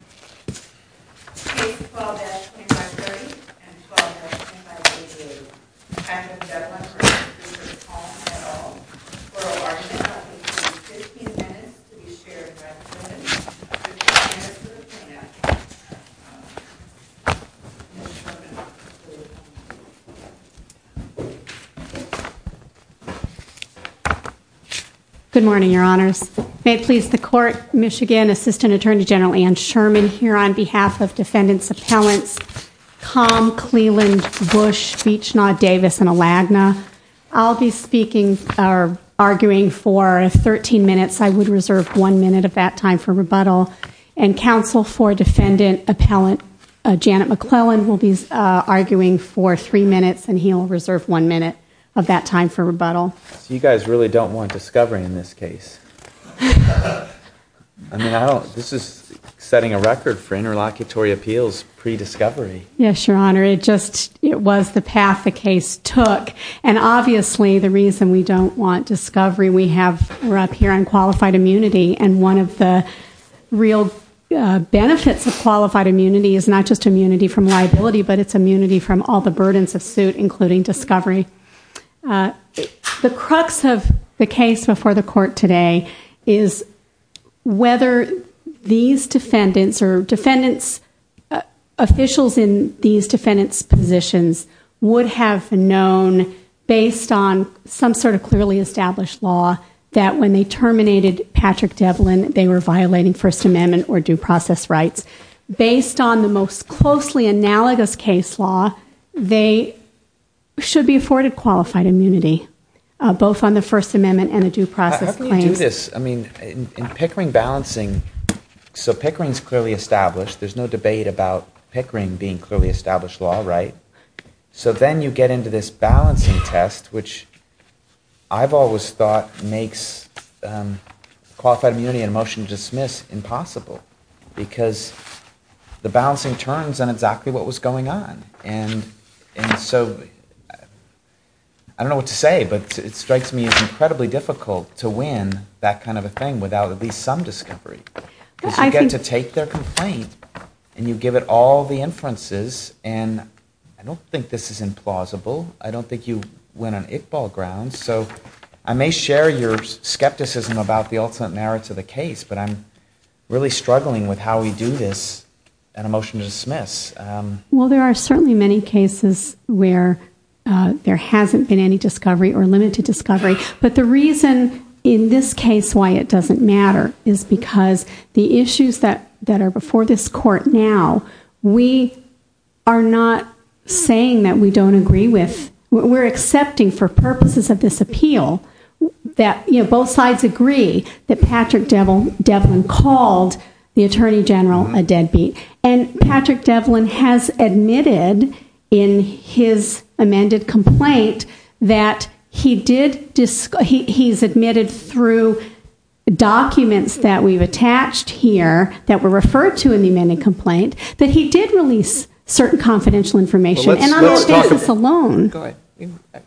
at all, for a large amount of at least 15 minutes to be shared by the Senate, Mr. Devlin v. Richard Kalm, and Ms. Sherman, please come to the podium. Good morning, your honors. May it please the court, Michigan Assistant Attorney General Anne Sherman here on behalf of Defendant's Appellants Kalm, Cleland, Bush, Beechnaw, Davis, and Alagna. I'll be speaking, or arguing, for 13 minutes. I would reserve one minute of that time for rebuttal. And counsel for Defendant Appellant Janet McClellan will be arguing for three minutes, and he'll reserve one minute of that time for rebuttal. You guys really don't want discovery in this case. I mean, this is setting a record for interlocutory appeals pre-discovery. Yes, your honor. It just, it was the path the case took. And obviously the reason we don't want discovery, we have, we're up here on qualified immunity, and one of the real benefits of qualified immunity is not just immunity from liability, but it's immunity from all the burdens of suit, including discovery. The crux of the case before the court today is whether these defendants, or defendants, officials in these defendants' positions would have known, based on some sort of clearly established law, that when they terminated Patrick Devlin, they were violating First Amendment or due process rights. Based on the most closely analogous case law, they should be afforded qualified immunity, both on the First Amendment and the due process claims. I mean, in Pickering balancing, so Pickering's clearly established. There's no debate about Pickering being clearly established law, right? So then you get into this balancing test, which I've always thought makes qualified immunity and a motion to dismiss impossible, because the balancing turns on exactly what was going on. And so I don't know what to say, but it strikes me as incredibly difficult to win that kind of a thing without at least some discovery. Because you get to take their complaint, and you give it all the inferences, and I don't think this is implausible. I don't think you win on it-ball grounds. So I may share your skepticism about the ultimate merits of the case, but I'm really struggling with how we do this, and a motion to dismiss. Well, there are certainly many cases where there hasn't been any discovery or limited discovery. But the reason in this case why it doesn't matter is because the issues that are before this court now, we are not saying that we don't agree with. We're accepting for purposes of this appeal that both sides agree that Patrick Devlin called the Attorney General a deadbeat. And Patrick Devlin has admitted in his amended complaint that he's admitted through documents that we've attached here that were referred to in the amended complaint, that he did release certain confidential information. And on that basis alone-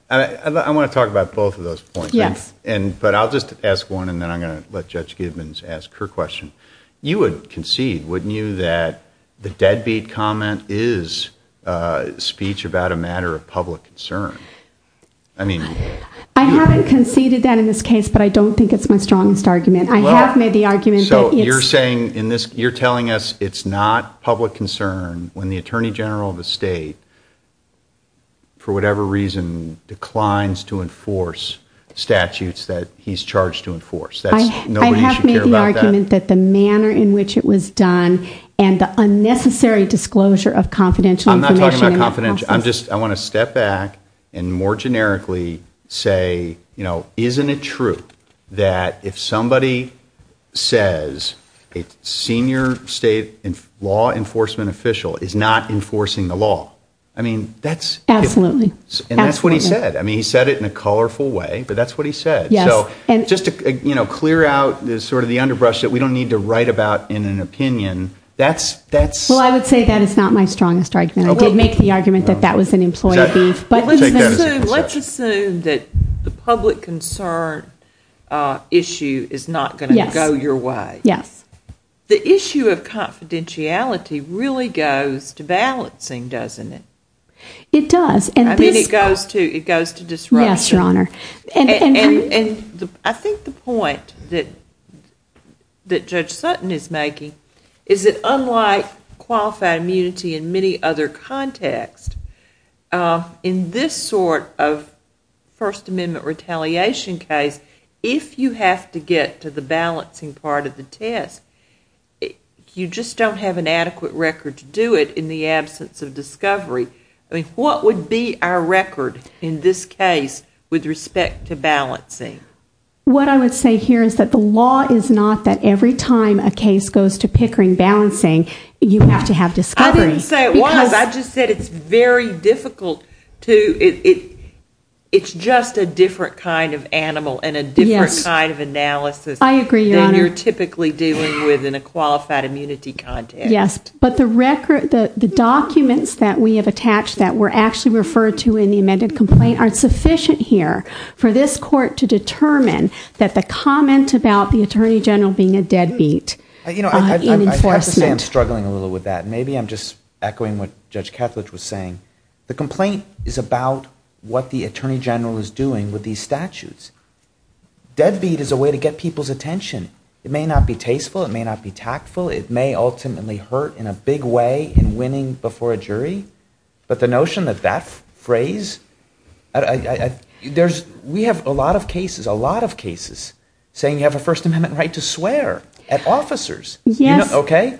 I want to talk about both of those points. Yes. But I'll just ask one, and then I'm going to let Judge Gibbons ask her question. You would concede, wouldn't you, that the deadbeat comment is speech about a matter of public concern? I haven't conceded that in this case, but I don't think it's my strongest argument. I have made the argument that it's- So you're telling us it's not public concern when the Attorney General of a state, for whatever reason, declines to enforce statutes that he's charged to enforce? I have made the argument that the manner in which it was done and the unnecessary disclosure of confidential information- I'm not talking about confidential- I'm just- I want to step back and more generically say, isn't it true that if somebody says a senior state law enforcement official is not enforcing the law? I mean, that's- Absolutely. And that's what he said. He said it in a colorful way, but that's what he said. So just to clear out sort of the underbrush that we don't need to write about in an opinion, that's- Well, I would say that is not my strongest argument. I did make the argument that that was an employee beef, but- Let's assume that the public concern issue is not going to go your way. Yes. The issue of confidentiality really goes to balancing, doesn't it? It does, and this- I mean, it goes to disruption. Yes, Your Honor. And I think the point that Judge Sutton is making is that unlike qualified immunity in many other contexts, in this sort of First Amendment retaliation case, if you have to get to the balancing part of the test, you just don't have an adequate record to do it in the absence of discovery. I mean, what would be our record in this case with respect to balancing? What I would say here is that the law is not that every time a case goes to Pickering balancing, you have to have discovery. I didn't say it was. I just said it's very difficult to- It's just a different kind of animal and a different kind of analysis- Yes. I agree, Your Honor. ...than you're typically dealing with in a qualified immunity context. Yes. But the documents that we have attached that were actually referred to in the amended complaint are sufficient here for this Court to determine that the comment about the Attorney General being a deadbeat in enforcement- I have to say I'm struggling a little with that. Maybe I'm just echoing what Judge Kethledge was saying. The complaint is about what the Attorney General is doing with these statutes. Deadbeat is a way to get people's attention. It may not be tasteful. It may not be tactful. It may ultimately hurt in a big way in winning before a jury. But the notion that that phrase- We have a lot of cases, a lot of cases, saying you have a First Amendment right to swear at officers. Yes. Okay?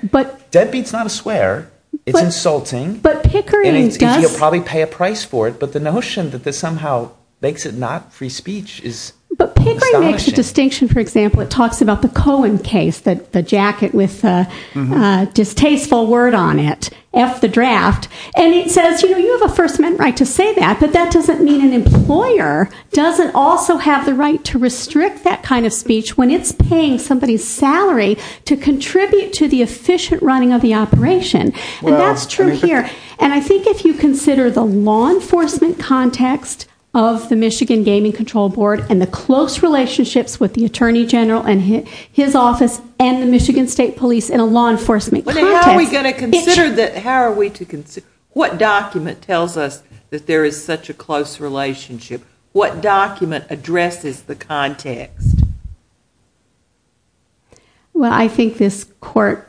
Deadbeat's not a swear. It's insulting. But Pickering does- And you'll probably pay a price for it. But the notion that this somehow makes it not free speech is astonishing. But Pickering makes a distinction. For example, it talks about the Cohen case, the jacket with a distasteful word on it. F the draft. And it says, you know, you have a First Amendment right to say that. But that doesn't mean an employer doesn't also have the right to restrict that kind of speech when it's paying somebody's salary to contribute to the efficient running of the operation. And that's true here. And I think if you consider the law enforcement context of the Michigan Gaming Control Board and the close relationships with the Attorney General and his office and the Michigan State Police in a law enforcement context- But how are we going to consider that? How are we to consider- What document tells us that there is such a close relationship? What document addresses the context? Well, I think this court-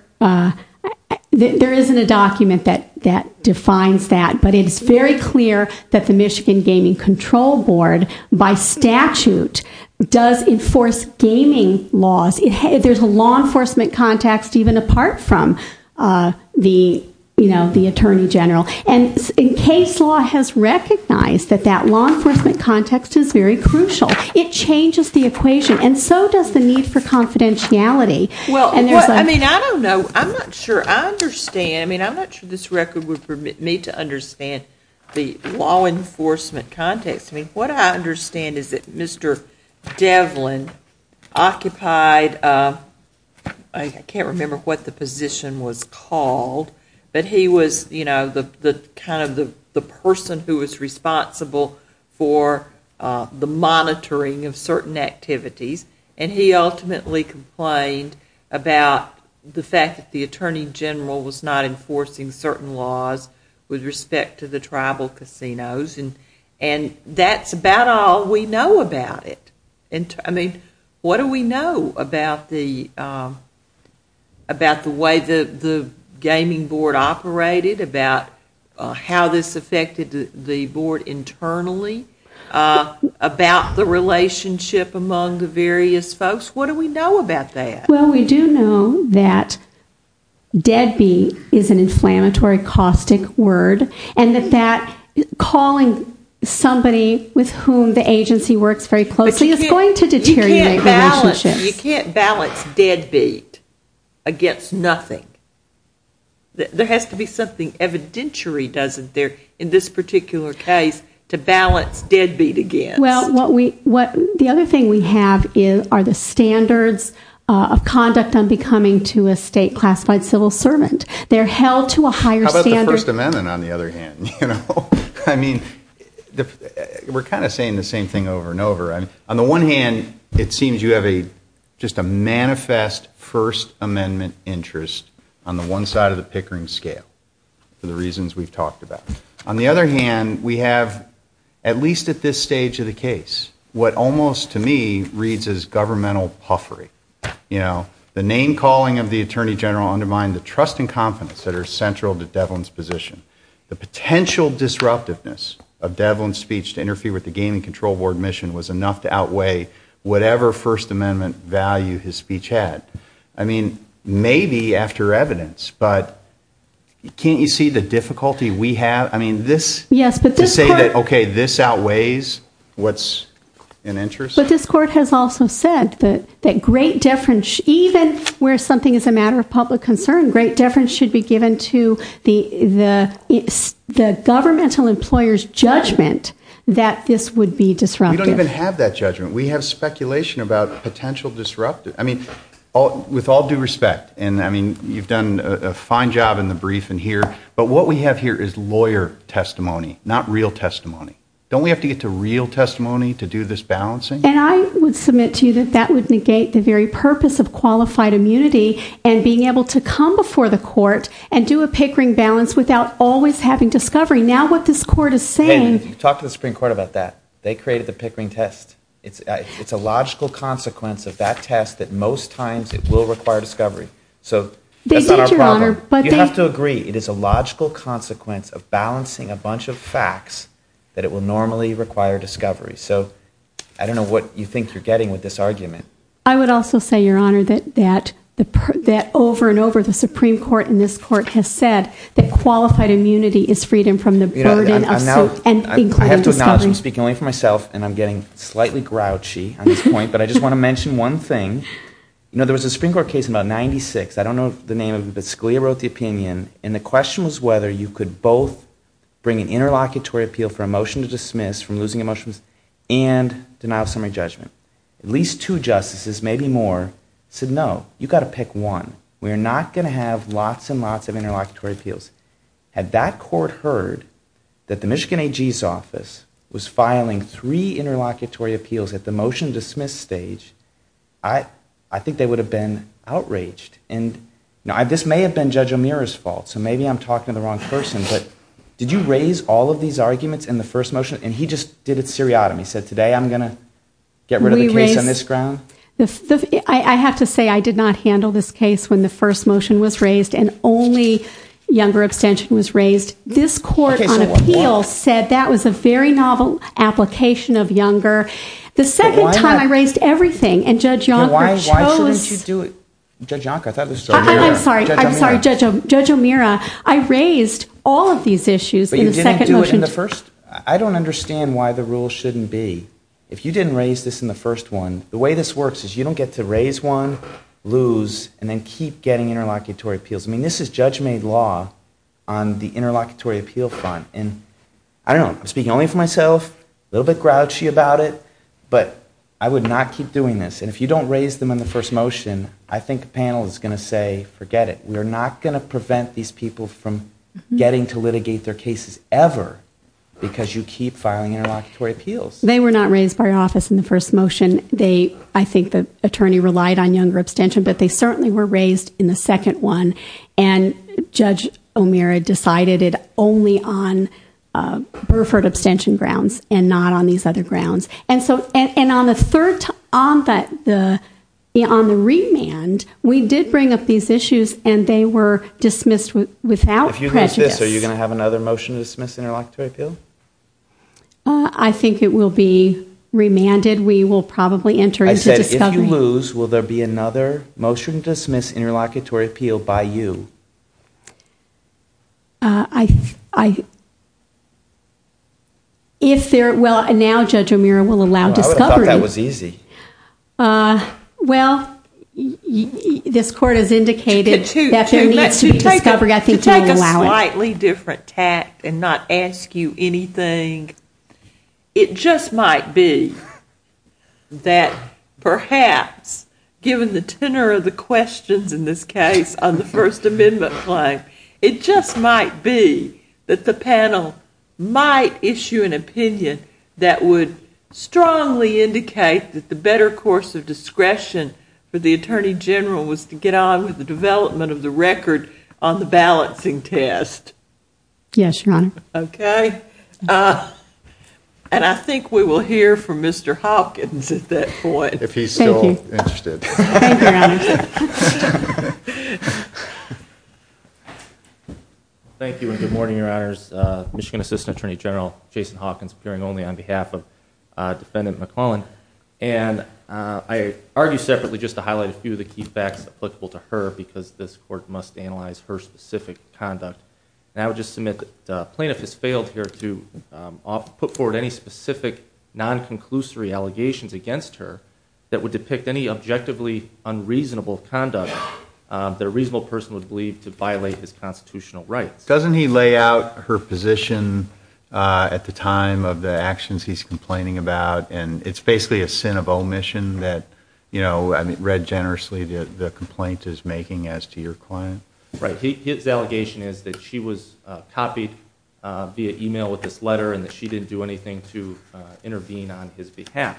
There isn't a document that defines that. But it is very clear that the Michigan Gaming Control Board, by statute, does enforce gaming laws. There's a law enforcement context even apart from the Attorney General. And case law has recognized that that law enforcement context is very crucial. It changes the equation. And so does the need for confidentiality. Well, I mean, I don't know. I'm not sure I understand. I mean, I'm not sure this record would permit me to understand the law enforcement context. I mean, what I understand is that Mr. Devlin occupied- I can't remember what the position was called. But he was, you know, kind of the person who was responsible for the monitoring of certain activities. And he ultimately complained about the fact that the Attorney General was not enforcing certain laws with respect to the tribal casinos. And that's about all we know about it. I mean, what do we know about the way the gaming board operated, about how this affected the board internally, about the relationship among the various folks? What do we know about that? Well, we do know that deadbeat is an inflammatory caustic word and that calling somebody with whom the agency works very closely is going to deteriorate relationships. But you can't balance deadbeat against nothing. There has to be something evidentiary, doesn't there, in this particular case to balance deadbeat against. Well, the other thing we have are the standards of conduct on becoming to a state-classified civil servant. They're held to a higher standard. How about the First Amendment, on the other hand? I mean, we're kind of saying the same thing over and over. On the one hand, it seems you have just a manifest First Amendment interest on the one side of the Pickering scale for the reasons we've talked about. On the other hand, we have, at least at this stage of the case, what almost, to me, reads as governmental puffery. You know, the name-calling of the Attorney General undermined the trust and confidence that are central to Devlin's position. The potential disruptiveness of Devlin's speech to interfere with the Gaming Control Board mission was enough to outweigh whatever First Amendment value his speech had. I mean, maybe after evidence, but can't you see the difficulty we have? I mean, this, to say that, okay, this outweighs what's in interest? But this Court has also said that great deference, even where something is a matter of public concern, great deference should be given to the governmental employer's judgment that this would be disruptive. We don't even have that judgment. We have speculation about potential disruptive. I mean, with all due respect, and, I mean, you've done a fine job in the briefing here, but what we have here is lawyer testimony, not real testimony. Don't we have to get to real testimony to do this balancing? And I would submit to you that that would negate the very purpose of qualified immunity and being able to come before the Court and do a Pickering balance without always having discovery. Now what this Court is saying... Talk to the Supreme Court about that. They created the Pickering test. It's a logical consequence of that test that most times it will require discovery. So that's not our problem. They did, Your Honor, but they... You have to agree it is a logical consequence of balancing a bunch of facts that it will normally require discovery. So I don't know what you think you're getting with this argument. I would also say, Your Honor, that over and over, the Supreme Court and this Court has said that qualified immunity is freedom from the burden of... I have to acknowledge, I'm speaking only for myself, and I'm getting slightly grouchy on this point, but I just want to mention one thing. You know, there was a Supreme Court case in about 1996. I don't know the name of it, but Scalia wrote the opinion, and the question was whether you could both bring an interlocutory appeal for a motion to dismiss from losing a motion and denial of summary judgment. At least two justices, maybe more, said no, you've got to pick one. We are not going to have lots and lots of interlocutory appeals. Had that court heard that the Michigan AG's office was filing three interlocutory appeals at the motion-dismiss stage, I think they would have been outraged. And this may have been Judge O'Meara's fault, so maybe I'm talking to the wrong person, but did you raise all of these arguments in the first motion? And he just did it seriatim. He said, today I'm going to get rid of the case on this ground. I have to say I did not handle this case when the first motion was raised, and only Younger extension was raised. This court on appeal said that was a very novel application of Younger. The second time I raised everything, and Judge Yonker chose... Why shouldn't you do it? Judge Yonker, I thought it was Judge O'Meara. I'm sorry, Judge O'Meara. I raised all of these issues in the second motion. But you didn't do it in the first? I don't understand why the rule shouldn't be. If you didn't raise this in the first one, the way this works is you don't get to raise one, lose, and then keep getting interlocutory appeals. I mean, this is judge-made law on the interlocutory appeal front. And I don't know, I'm speaking only for myself, a little bit grouchy about it, but I would not keep doing this. And if you don't raise them in the first motion, I think the panel is going to say, forget it. We are not going to prevent these people from getting to litigate their cases ever, because you keep filing interlocutory appeals. They were not raised by office in the first motion. I think the attorney relied on younger abstention, but they certainly were raised in the second one. And Judge O'Meara decided it only on Burford abstention grounds and not on these other grounds. And on the remand, we did bring up these issues, and they were dismissed without prejudice. If you lose this, are you going to have another motion to dismiss interlocutory appeal? I think it will be remanded. We will probably enter into discovery. I said if you lose, will there be another motion to dismiss interlocutory appeal by you? I... If there... well, now Judge O'Meara will allow discovery. I would have thought that was easy. Well, this Court has indicated that there needs to be discovery. I think it will allow it. To take a slightly different tact and not ask you anything, it just might be that perhaps, given the tenor of the questions in this case on the First Amendment claim, it just might be that the panel might issue an opinion that would strongly indicate that the better course of discretion for the Attorney General was to get on with the development of the record on the balancing test. Yes, Your Honor. Okay. I think we will hear from Mr. Hawkins at that point. If he's still interested. Thank you, Your Honor. Thank you and good morning, Your Honors. Michigan Assistant Attorney General Jason Hawkins appearing only on behalf of Defendant McClellan. I argue separately just to highlight a few of the key facts applicable to her because this Court must analyze her specific conduct. And I would just submit that the plaintiff has failed here to put forward any specific non-conclusory allegations against her that would depict any objectively unreasonable conduct that a reasonable person would believe to violate his constitutional rights. Doesn't he lay out her position at the time of the actions he's complaining about, and it's basically a sin of omission that, you know, read generously the complaint is making as to your client? Right. His allegation is that she was copied via e-mail with this letter and that she didn't do anything to intervene on his behalf.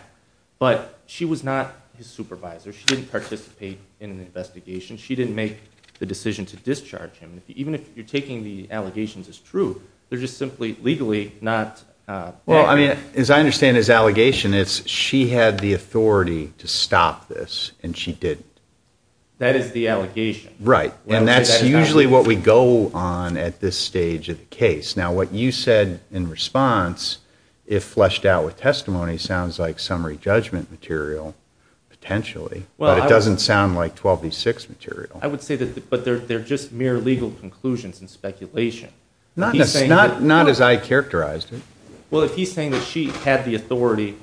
But she was not his supervisor. She didn't participate in an investigation. She didn't make the decision to discharge him. Even if you're taking the allegations as true, they're just simply legally not. Well, I mean, as I understand his allegation, it's she had the authority to stop this and she didn't. That is the allegation. Right, and that's usually what we go on at this stage of the case. Now, what you said in response, if fleshed out with testimony, sounds like summary judgment material potentially, but it doesn't sound like 12v6 material. I would say that they're just mere legal conclusions and speculation. Not as I characterized it. Well, if he's saying that she had the authority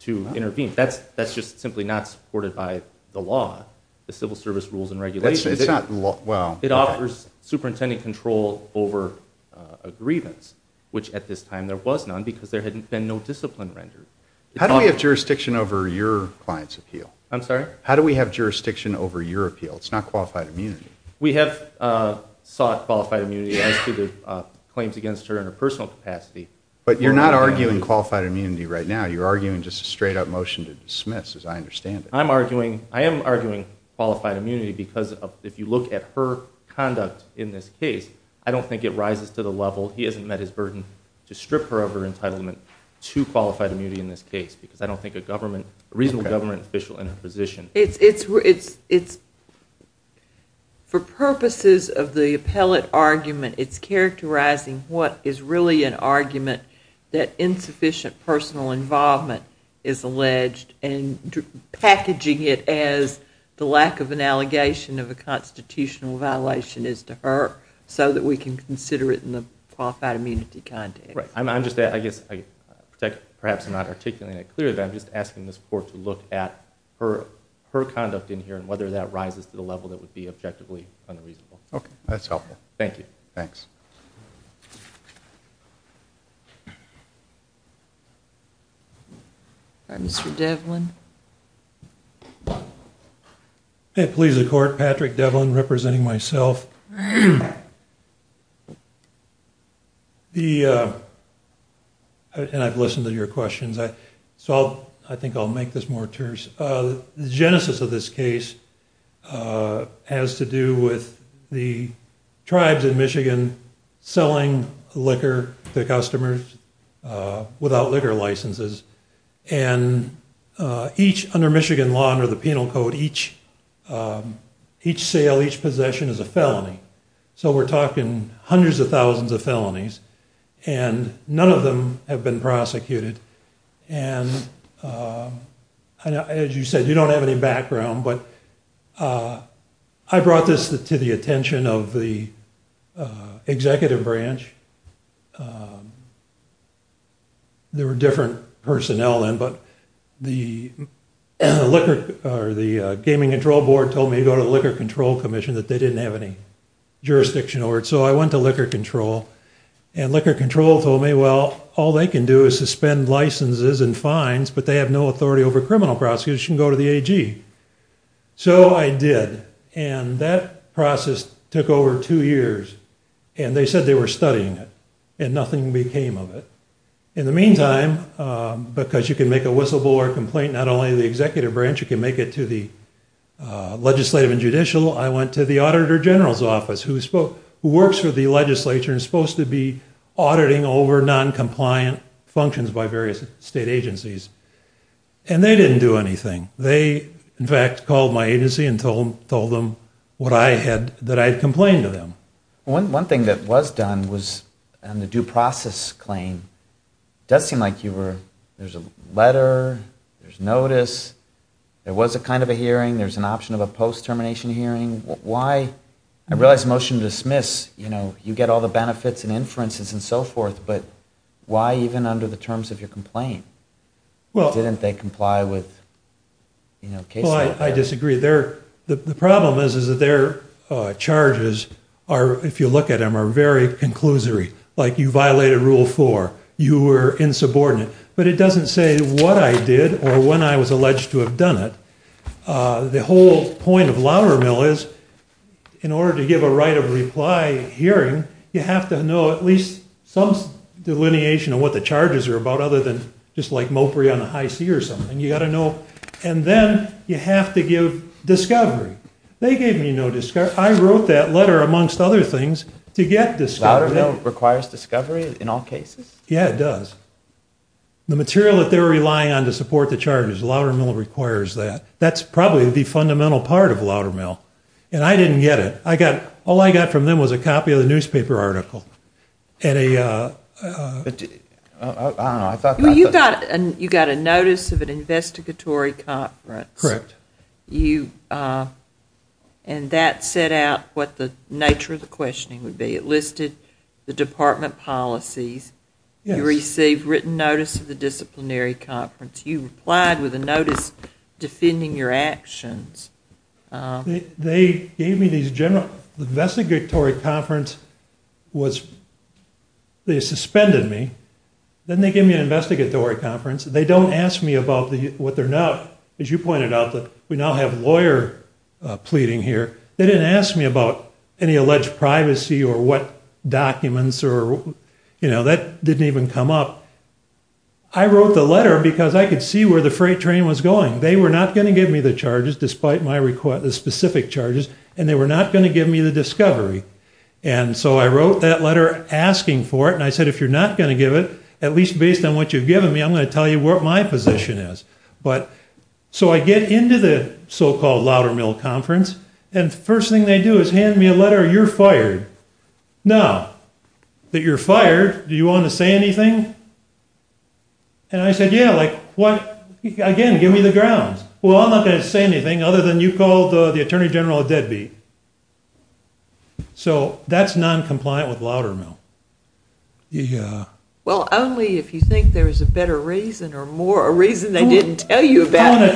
to intervene, that's just simply not supported by the law, the civil service rules and regulations. It offers superintendent control over a grievance, which at this time there was none because there had been no discipline rendered. How do we have jurisdiction over your client's appeal? I'm sorry? How do we have jurisdiction over your appeal? It's not qualified immunity. We have sought qualified immunity as to the claims against her in her personal capacity. But you're not arguing qualified immunity right now. You're arguing just a straight-up motion to dismiss, as I understand it. I am arguing qualified immunity because if you look at her conduct in this case, I don't think it rises to the level, he hasn't met his burden to strip her of her entitlement to qualified immunity in this case because I don't think a reasonable government official in her position. For purposes of the appellate argument, it's characterizing what is really an argument that insufficient personal involvement is alleged and packaging it as the lack of an allegation of a constitutional violation is to her so that we can consider it in the qualified immunity context. Right. I'm just, I guess, perhaps not articulating it clearly, but I'm just asking the court to look at her conduct in here and whether that rises to the level that would be objectively unreasonable. Okay. That's helpful. Thank you. Thanks. Thank you. Mr. Devlin. Please, the court, Patrick Devlin, representing myself. And I've listened to your questions, so I think I'll make this more terse. The genesis of this case has to do with the tribes in Michigan selling liquor to customers without liquor licenses. And each, under Michigan law under the penal code, each sale, each possession is a felony. So we're talking hundreds of thousands of felonies and none of them have been prosecuted. And as you said, you don't have any background, but I brought this to the attention of the executive branch. There were different personnel then, but the liquor or the gaming control board told me to go to the Liquor Control Commission that they didn't have any jurisdiction over it. So I went to Liquor Control and Liquor Control told me, well, all they can do is suspend licenses and fines, but they have no authority over criminal prosecution, go to the AG. So I did, and that process took over two years. And they said they were studying it, and nothing became of it. In the meantime, because you can make a whistleblower complaint not only to the executive branch, you can make it to the legislative and judicial. I went to the auditor general's office, who works for the legislature and is supposed to be auditing over noncompliant functions by various state agencies, and they didn't do anything. They, in fact, called my agency and told them that I had complained to them. One thing that was done was on the due process claim, it does seem like there's a letter, there's notice, there was a kind of a hearing, there's an option of a post-termination hearing. I realize motion to dismiss, you get all the benefits and inferences and so forth, but why even under the terms of your complaint? Didn't they comply with case law? Well, I disagree. The problem is that their charges, if you look at them, are very conclusory, like you violated Rule 4, you were insubordinate. But it doesn't say what I did or when I was alleged to have done it. The whole point of Loudermill is, in order to give a right of reply hearing, you have to know at least some delineation of what the charges are about, other than just like Mopri on the high C or something. You got to know, and then you have to give discovery. They gave me no discovery. I wrote that letter, amongst other things, to get discovery. Loudermill requires discovery in all cases? Yeah, it does. The material that they're relying on to support the charges, Loudermill requires that. That's probably the fundamental part of Loudermill, and I didn't get it. All I got from them was a copy of the newspaper article. You got a notice of an investigatory conference. Correct. And that set out what the nature of the questioning would be. It listed the department policies. You received written notice of the disciplinary conference. You replied with a notice defending your actions. The investigatory conference, they suspended me. Then they gave me an investigatory conference. They don't ask me about what they're not. As you pointed out, we now have lawyer pleading here. They didn't ask me about any alleged privacy or what documents. That didn't even come up. I wrote the letter because I could see where the freight train was going. They were not going to give me the charges, despite the specific charges, and they were not going to give me the discovery. So I wrote that letter asking for it, and I said, if you're not going to give it, at least based on what you've given me, I'm going to tell you what my position is. So I get into the so-called Loudermill conference, you're fired. Now, that you're fired, do you want to say anything? And I said, yeah. Again, give me the grounds. Well, I'm not going to say anything other than you called the attorney general a deadbeat. So that's noncompliant with Loudermill. Yeah. Well, only if you think there's a better reason or more, a reason they didn't tell you about. In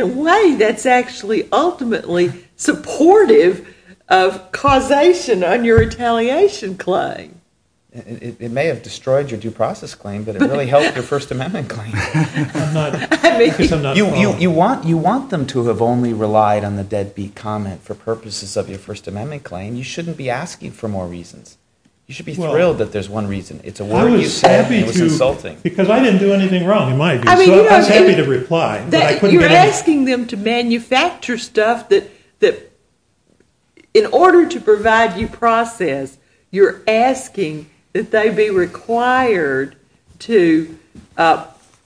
a way, that's actually ultimately supportive of causation on your retaliation claim. It may have destroyed your due process claim, but it really helped your First Amendment claim. You want them to have only relied on the deadbeat comment for purposes of your First Amendment claim. You shouldn't be asking for more reasons. You should be thrilled that there's one reason. Because I didn't do anything wrong in my view. So I was happy to reply. You're asking them to manufacture stuff that in order to provide you process, you're asking that they be required to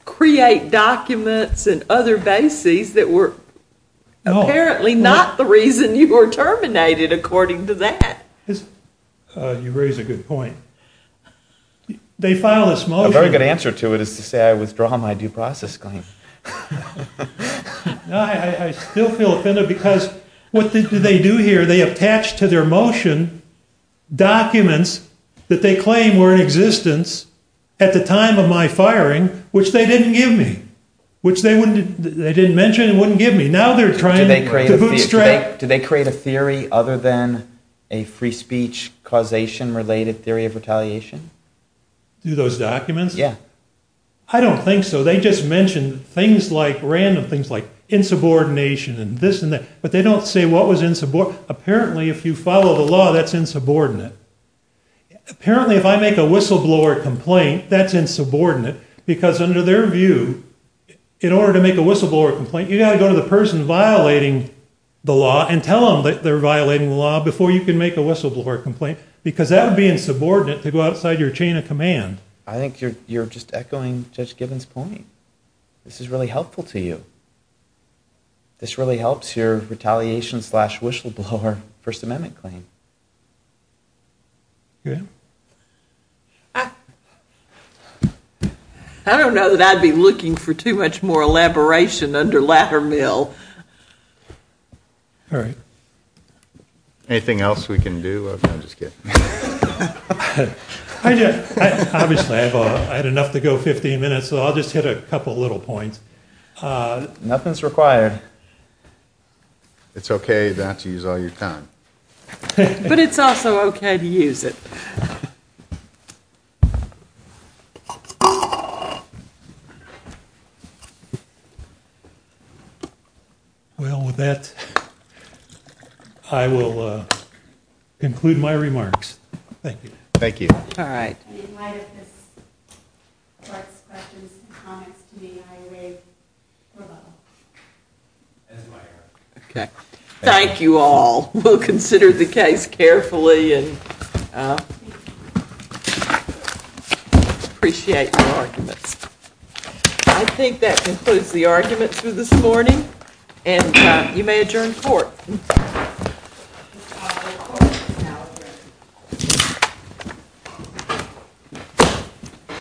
create documents and other bases that were apparently not the reason you were terminated according to that. You raise a good point. They file this motion. A very good answer to it is to say I withdraw my due process claim. No, I still feel offended because what do they do here? They attach to their motion documents that they claim were in existence at the time of my firing, which they didn't give me, which they didn't mention and wouldn't give me. Now they're trying to bootstrap. Do they create a theory other than a free speech causation related theory of retaliation? Do those documents? Yeah. I don't think so. They just mentioned things like random things like insubordination and this and that, but they don't say what was insubordinate. Apparently, if you follow the law, that's insubordinate. Apparently, if I make a whistleblower complaint, that's insubordinate because under their view, in order to make a whistleblower complaint, you got to go to the person violating the law and tell them that they're violating the law before you can make a whistleblower complaint because that would be insubordinate to go outside your chain of command. I think you're just echoing Judge Gibbons' point. This is really helpful to you. This really helps your retaliation slash whistleblower First Amendment claim. Yeah. I don't know that I'd be looking for too much more elaboration under latter mill. All right. Anything else we can do? I'm just kidding. Obviously, I had enough to go 15 minutes, so I'll just hit a couple little points. Nothing's required. It's okay not to use all your time. But it's also okay to use it. Thank you. Well, with that, I will conclude my remarks. Thank you. Thank you. All right. Thank you all. We'll consider the case carefully. Appreciate your arguments. I think that concludes the arguments for this morning, and you may adjourn court.